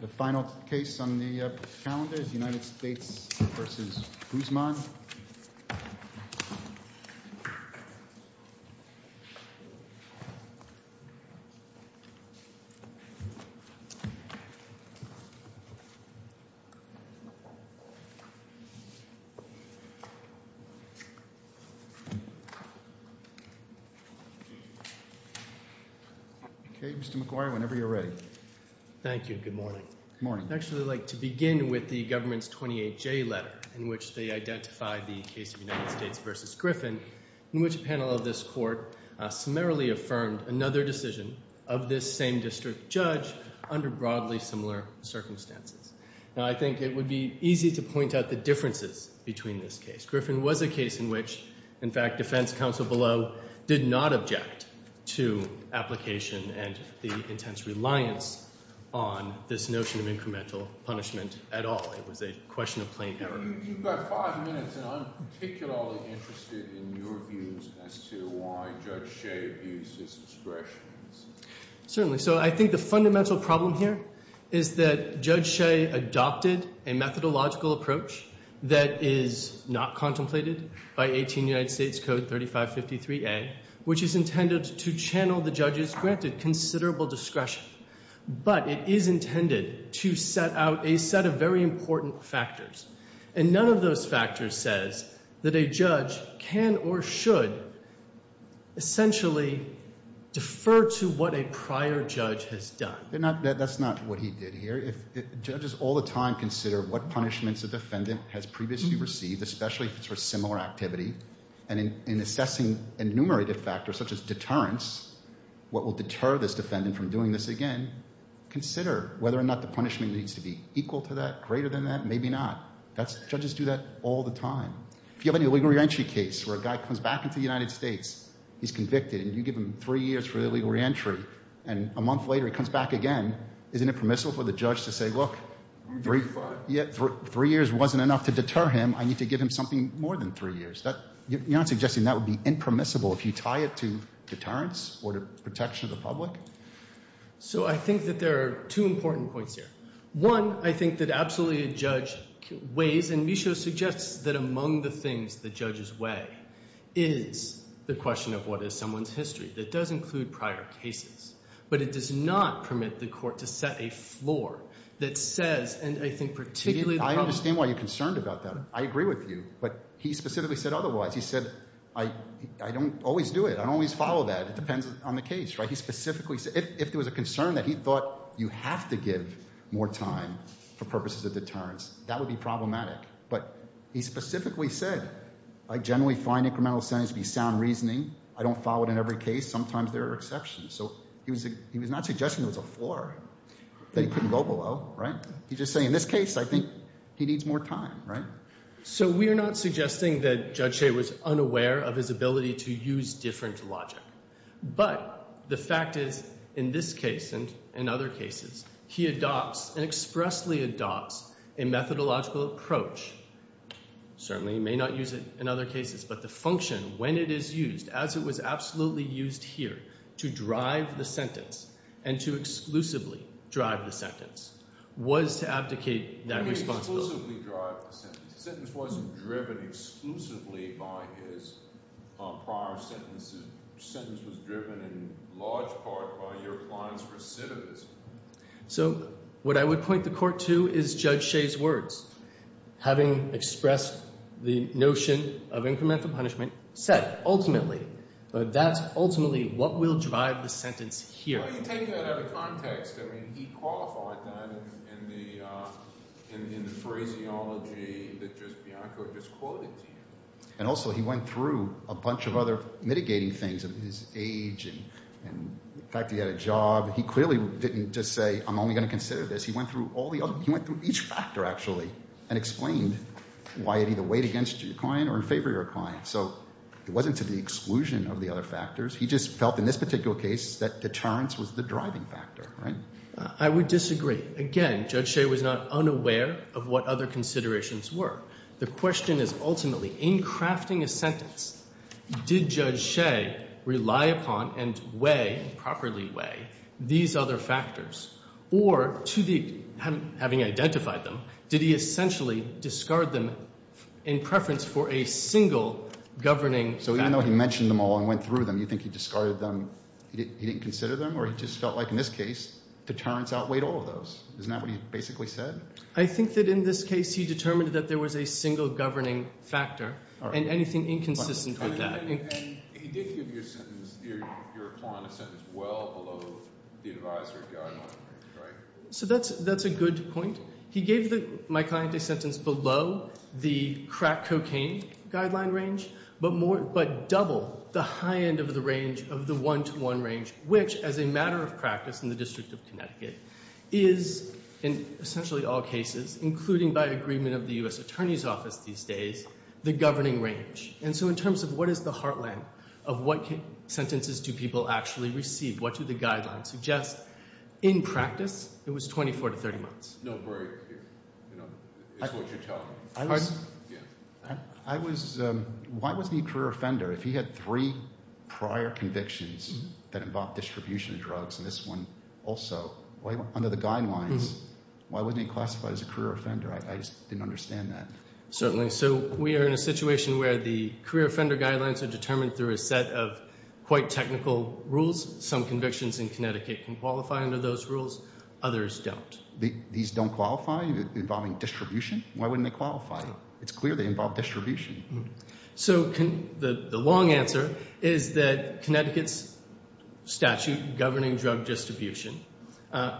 The final case on the calendar is the United States v. Guzman. Okay, Mr. McGuire, whenever you're ready. Thank you. Good morning. Good morning. I'd actually like to begin with the government's 28J letter, in which they identified the case of United States v. Griffin, in which a panel of this court summarily affirmed another decision of this same district judge under broadly similar circumstances. Now, I think it would be easy to point out the differences between this case. Mr. Griffin was a case in which, in fact, defense counsel below did not object to application and the intense reliance on this notion of incremental punishment at all. It was a question of plain error. You've got five minutes, and I'm particularly interested in your views as to why Judge Shea views his expressions. Certainly. So I think the fundamental problem here is that Judge Shea adopted a methodological approach that is not contemplated by 18 United States Code 3553A, which is intended to channel the judge's granted considerable discretion. But it is intended to set out a set of very important factors. And none of those factors says that a judge can or should essentially defer to what a prior judge has done. That's not what he did here. Judges all the time consider what punishments a defendant has previously received, especially if it's for a similar activity. And in assessing enumerative factors such as deterrence, what will deter this defendant from doing this again, consider whether or not the punishment needs to be equal to that, greater than that, maybe not. Judges do that all the time. If you have an illegal reentry case where a guy comes back into the United States, he's convicted, and you give him three years for illegal reentry, and a month later he comes back again, isn't it permissible for the judge to say, look, three years wasn't enough to deter him. I need to give him something more than three years. You're not suggesting that would be impermissible if you tie it to deterrence or to protection of the public? So I think that there are two important points here. One, I think that absolutely a judge weighs, and Michaud suggests that among the things that judges weigh is the question of what is someone's history. That does include prior cases. But it does not permit the court to set a floor that says, and I think particularly the problem— I understand why you're concerned about that. I agree with you. But he specifically said otherwise. He said, I don't always do it. I don't always follow that. It depends on the case. He specifically said—if there was a concern that he thought you have to give more time for purposes of deterrence, that would be problematic. But he specifically said, I generally find incremental sentencing to be sound reasoning. I don't follow it in every case. Sometimes there are exceptions. So he was not suggesting there was a floor that he couldn't go below. He's just saying, in this case, I think he needs more time. So we are not suggesting that Judge Shea was unaware of his ability to use different logic. But the fact is, in this case and in other cases, he adopts and expressly adopts a methodological approach. Certainly he may not use it in other cases. But the function, when it is used, as it was absolutely used here, to drive the sentence and to exclusively drive the sentence, was to abdicate that responsibility. The sentence wasn't driven exclusively by his prior sentences. The sentence was driven in large part by your client's recidivism. So what I would point the court to is Judge Shea's words. Having expressed the notion of incremental punishment, said, ultimately, that that's ultimately what will drive the sentence here. Well, you take that out of context. I mean, he qualified that in the phraseology that just Bianco just quoted to you. And also he went through a bunch of other mitigating things, his age and the fact that he had a job. He clearly didn't just say, I'm only going to consider this. He went through all the other – he went through each factor, actually, and explained why it either weighed against your client or in favor of your client. So it wasn't to the exclusion of the other factors. He just felt in this particular case that deterrence was the driving factor, right? I would disagree. Again, Judge Shea was not unaware of what other considerations were. The question is, ultimately, in crafting a sentence, did Judge Shea rely upon and weigh, properly weigh, these other factors? Or to the – having identified them, did he essentially discard them in preference for a single governing factor? So even though he mentioned them all and went through them, you think he discarded them – he didn't consider them? Or he just felt like in this case deterrence outweighed all of those? Isn't that what he basically said? I think that in this case he determined that there was a single governing factor and anything inconsistent with that. And he did give your sentence – your client a sentence well below the advisory guideline, right? So that's a good point. He gave my client a sentence below the crack cocaine guideline range, but double the high end of the range of the one-to-one range, which, as a matter of practice in the District of Connecticut, is in essentially all cases, including by agreement of the U.S. Attorney's Office these days, the governing range. And so in terms of what is the heartland of what sentences do people actually receive? What do the guidelines suggest? In practice, it was 24 to 30 months. No break is what you're telling me. Why was he a career offender if he had three prior convictions that involved distribution of drugs and this one also? Under the guidelines, why wasn't he classified as a career offender? I just didn't understand that. Certainly. So we are in a situation where the career offender guidelines are determined through a set of quite technical rules. Some convictions in Connecticut can qualify under those rules. Others don't. These don't qualify involving distribution? Why wouldn't they qualify? It's clear they involve distribution. So the long answer is that Connecticut's statute governing drug distribution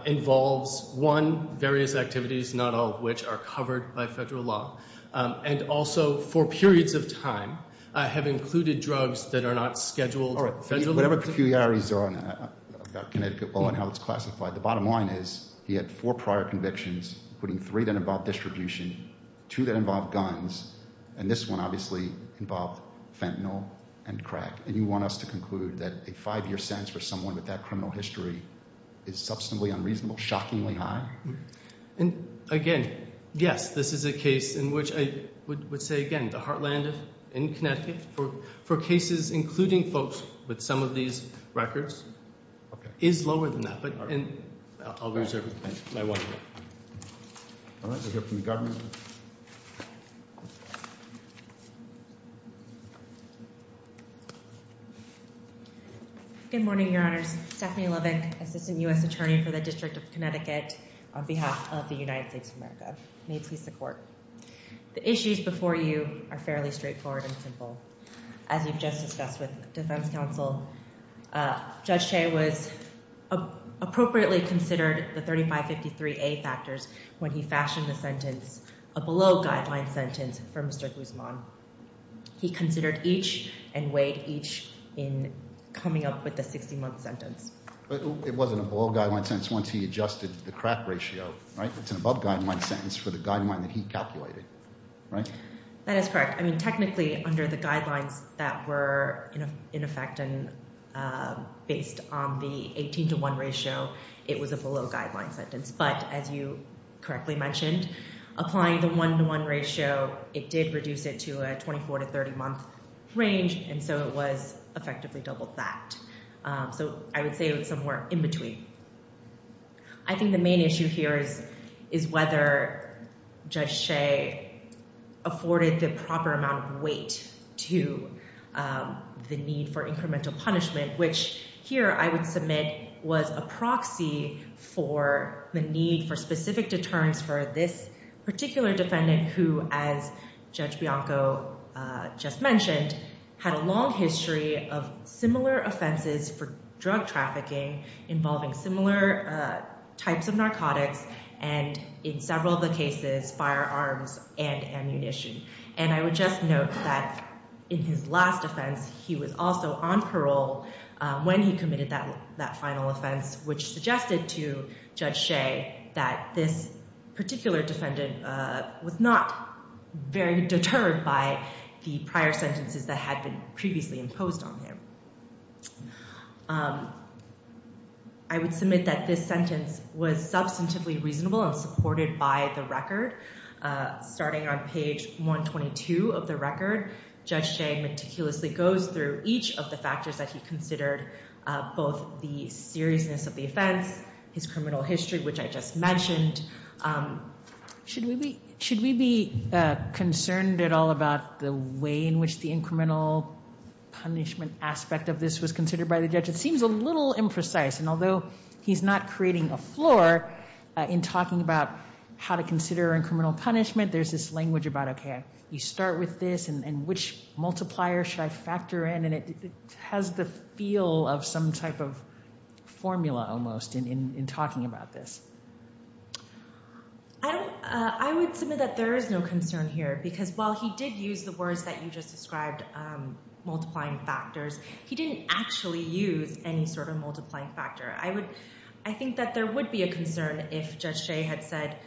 involves, one, various activities, not all of which are covered by federal law, and also for periods of time have included drugs that are not scheduled. All right. Whatever peculiarities there are about Connecticut, well, and how it's classified, the bottom line is he had four prior convictions, including three that involved distribution, two that involved guns, and this one obviously involved fentanyl and crack. And you want us to conclude that a five-year sentence for someone with that criminal history is substantially unreasonable, shockingly high? And, again, yes, this is a case in which I would say, again, the heartland in Connecticut for cases, including folks with some of these records, is lower than that. All right. I'll reserve it. All right. We'll hear from the government. Good morning, Your Honors. Stephanie Lovick, Assistant U.S. Attorney for the District of Connecticut on behalf of the United States of America. May it please the Court. The issues before you are fairly straightforward and simple. As you've just discussed with the defense counsel, Judge Chay was appropriately considered the 3553A factors when he fashioned the sentence, a below-guideline sentence, for Mr. Guzman. He considered each and weighed each in coming up with the 60-month sentence. But it wasn't a below-guideline sentence once he adjusted the crack ratio, right? It's an above-guideline sentence for the guideline that he calculated, right? That is correct. I mean, technically, under the guidelines that were in effect and based on the 18-to-1 ratio, it was a below-guideline sentence. But as you correctly mentioned, applying the 1-to-1 ratio, it did reduce it to a 24-to-30-month range. And so it was effectively double that. So I would say it was somewhere in between. I think the main issue here is whether Judge Chay afforded the proper amount of weight to the need for incremental punishment, which here I would submit was a proxy for the need for specific deterrence for this particular defendant who, as Judge Bianco just mentioned, had a long history of similar offenses for drug trafficking involving similar types of narcotics and, in several of the cases, firearms and ammunition. And I would just note that in his last offense, he was also on parole when he committed that final offense, which suggested to Judge Chay that this particular defendant was not very deterred by the prior sentences that had been previously imposed on him. I would submit that this sentence was substantively reasonable and supported by the record. Starting on page 122 of the record, Judge Chay meticulously goes through each of the factors that he considered, both the seriousness of the offense, his criminal history, which I just mentioned. Should we be concerned at all about the way in which the incremental punishment aspect of this was considered by the judge? It seems a little imprecise, and although he's not creating a floor in talking about how to consider incremental punishment, there's this language about, okay, you start with this, and which multiplier should I factor in? And it has the feel of some type of formula, almost, in talking about this. I would submit that there is no concern here, because while he did use the words that you just described, multiplying factors, he didn't actually use any sort of multiplying factor. I think that there would be a concern if Judge Chay had said,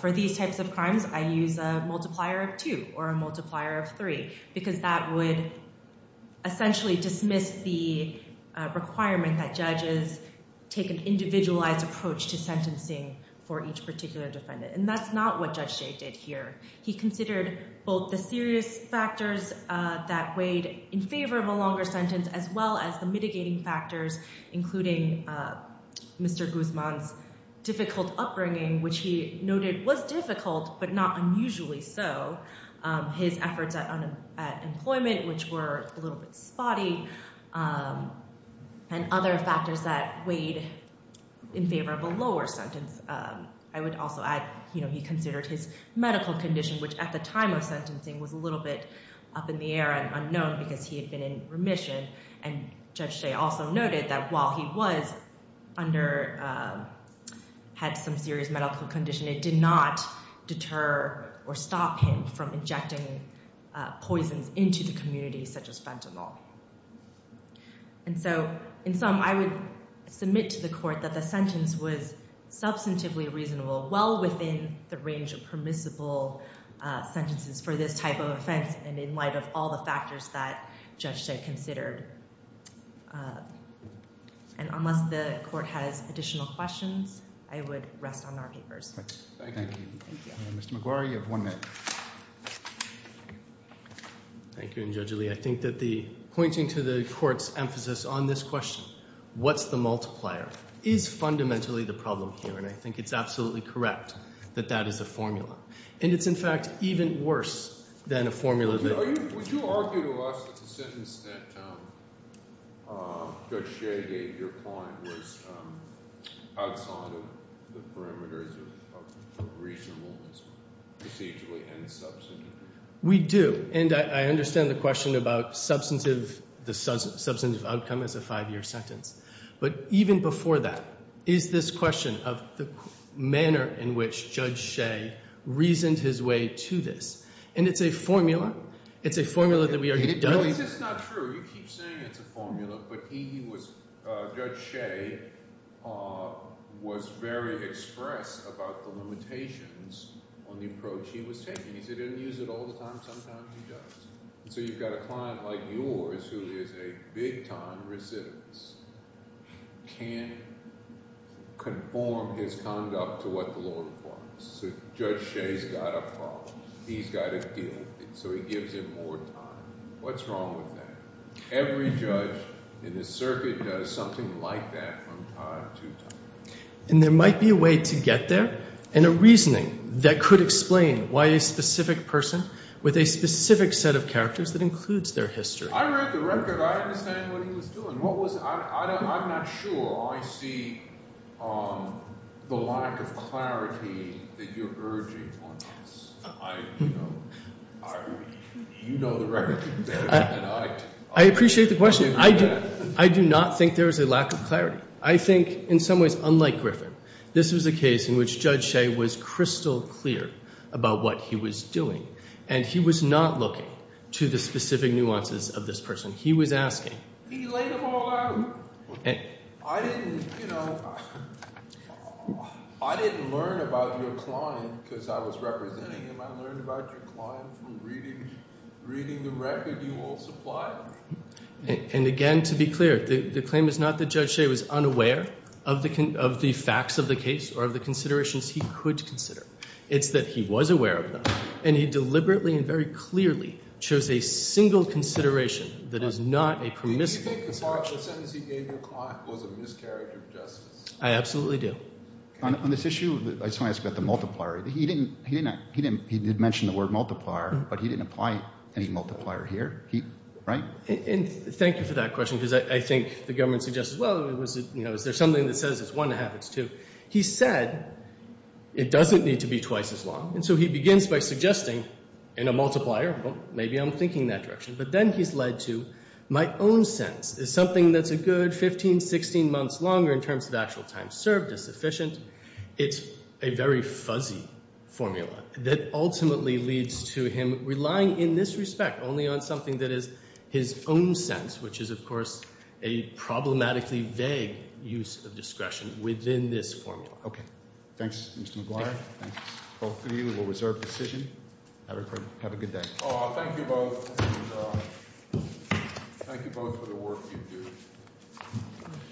for these types of crimes, I use a multiplier of two or a multiplier of three, because that would essentially dismiss the requirement that judges take an individualized approach to sentencing for each particular defendant. And that's not what Judge Chay did here. He considered both the serious factors that weighed in favor of a longer sentence, as well as the mitigating factors, including Mr. Guzman's difficult upbringing, which he noted was difficult, but not unusually so, his efforts at unemployment, which were a little bit spotty, and other factors that weighed in favor of a lower sentence. I would also add, he considered his medical condition, which at the time of sentencing was a little bit up in the air and unknown, because he had been in remission, and Judge Chay also noted that while he had some serious medical condition, it did not deter or stop him from injecting poisons into the community, such as fentanyl. And so, in sum, I would submit to the court that the sentence was substantively reasonable, well within the range of permissible sentences for this type of offense, and in light of all the factors that Judge Chay considered. And unless the court has additional questions, I would rest on our papers. Thank you. Thank you. Mr. McGuire, you have one minute. Thank you, and Judge Ali, I think that pointing to the court's emphasis on this question, what's the multiplier, is fundamentally the problem here, and I think it's absolutely correct that that is a formula. And it's, in fact, even worse than a formula that… Would you argue to us that the sentence that Judge Chay gave your client was outside of the perimeters of reasonableness procedurally and substantively? We do, and I understand the question about substantive outcome as a five-year sentence. But even before that, is this question of the manner in which Judge Chay reasoned his way to this, and it's a formula. It's a formula that we already did. No, it's just not true. You keep saying it's a formula, but he was – Judge Chay was very express about the limitations on the approach he was taking. He said he didn't use it all the time. Sometimes he does. So you've got a client like yours who is a big-time recidivist, can't conform his conduct to what the law requires. So Judge Chay's got a problem. He's got to deal with it, so he gives him more time. What's wrong with that? Every judge in the circuit does something like that from time to time. And there might be a way to get there and a reasoning that could explain why a specific person with a specific set of characters that includes their history. I read the record. I understand what he was doing. I'm not sure I see the lack of clarity that you're urging on us. You know the record better than I do. I appreciate the question. I do not think there is a lack of clarity. I think in some ways, unlike Griffin, this was a case in which Judge Chay was crystal clear about what he was doing, and he was not looking to the specific nuances of this person. He laid them all out. I didn't learn about your client because I was representing him. I learned about your client from reading the record you all supplied me. And again, to be clear, the claim is not that Judge Chay was unaware of the facts of the case or of the considerations he could consider. It's that he was aware of them, and he deliberately and very clearly chose a single consideration that is not a permissive consideration. Do you think the partial sentence he gave your client was a mischaracter of justice? I absolutely do. On this issue, I just want to ask about the multiplier. He did mention the word multiplier, but he didn't apply any multiplier here, right? And thank you for that question because I think the government suggests, well, you know, is there something that says it's one and a half, it's two. He said it doesn't need to be twice as long, and so he begins by suggesting in a multiplier, well, maybe I'm thinking that direction, but then he's led to my own sense is something that's a good 15, 16 months longer in terms of actual time served is sufficient. It's a very fuzzy formula that ultimately leads to him relying in this respect only on something that is his own sense, which is, of course, a problematically vague use of discretion within this formula. Okay. Thanks, Mr. McGuire. Thanks both of you. We will reserve decision. Have a good day. Thank you both. Thank you both for the work you do.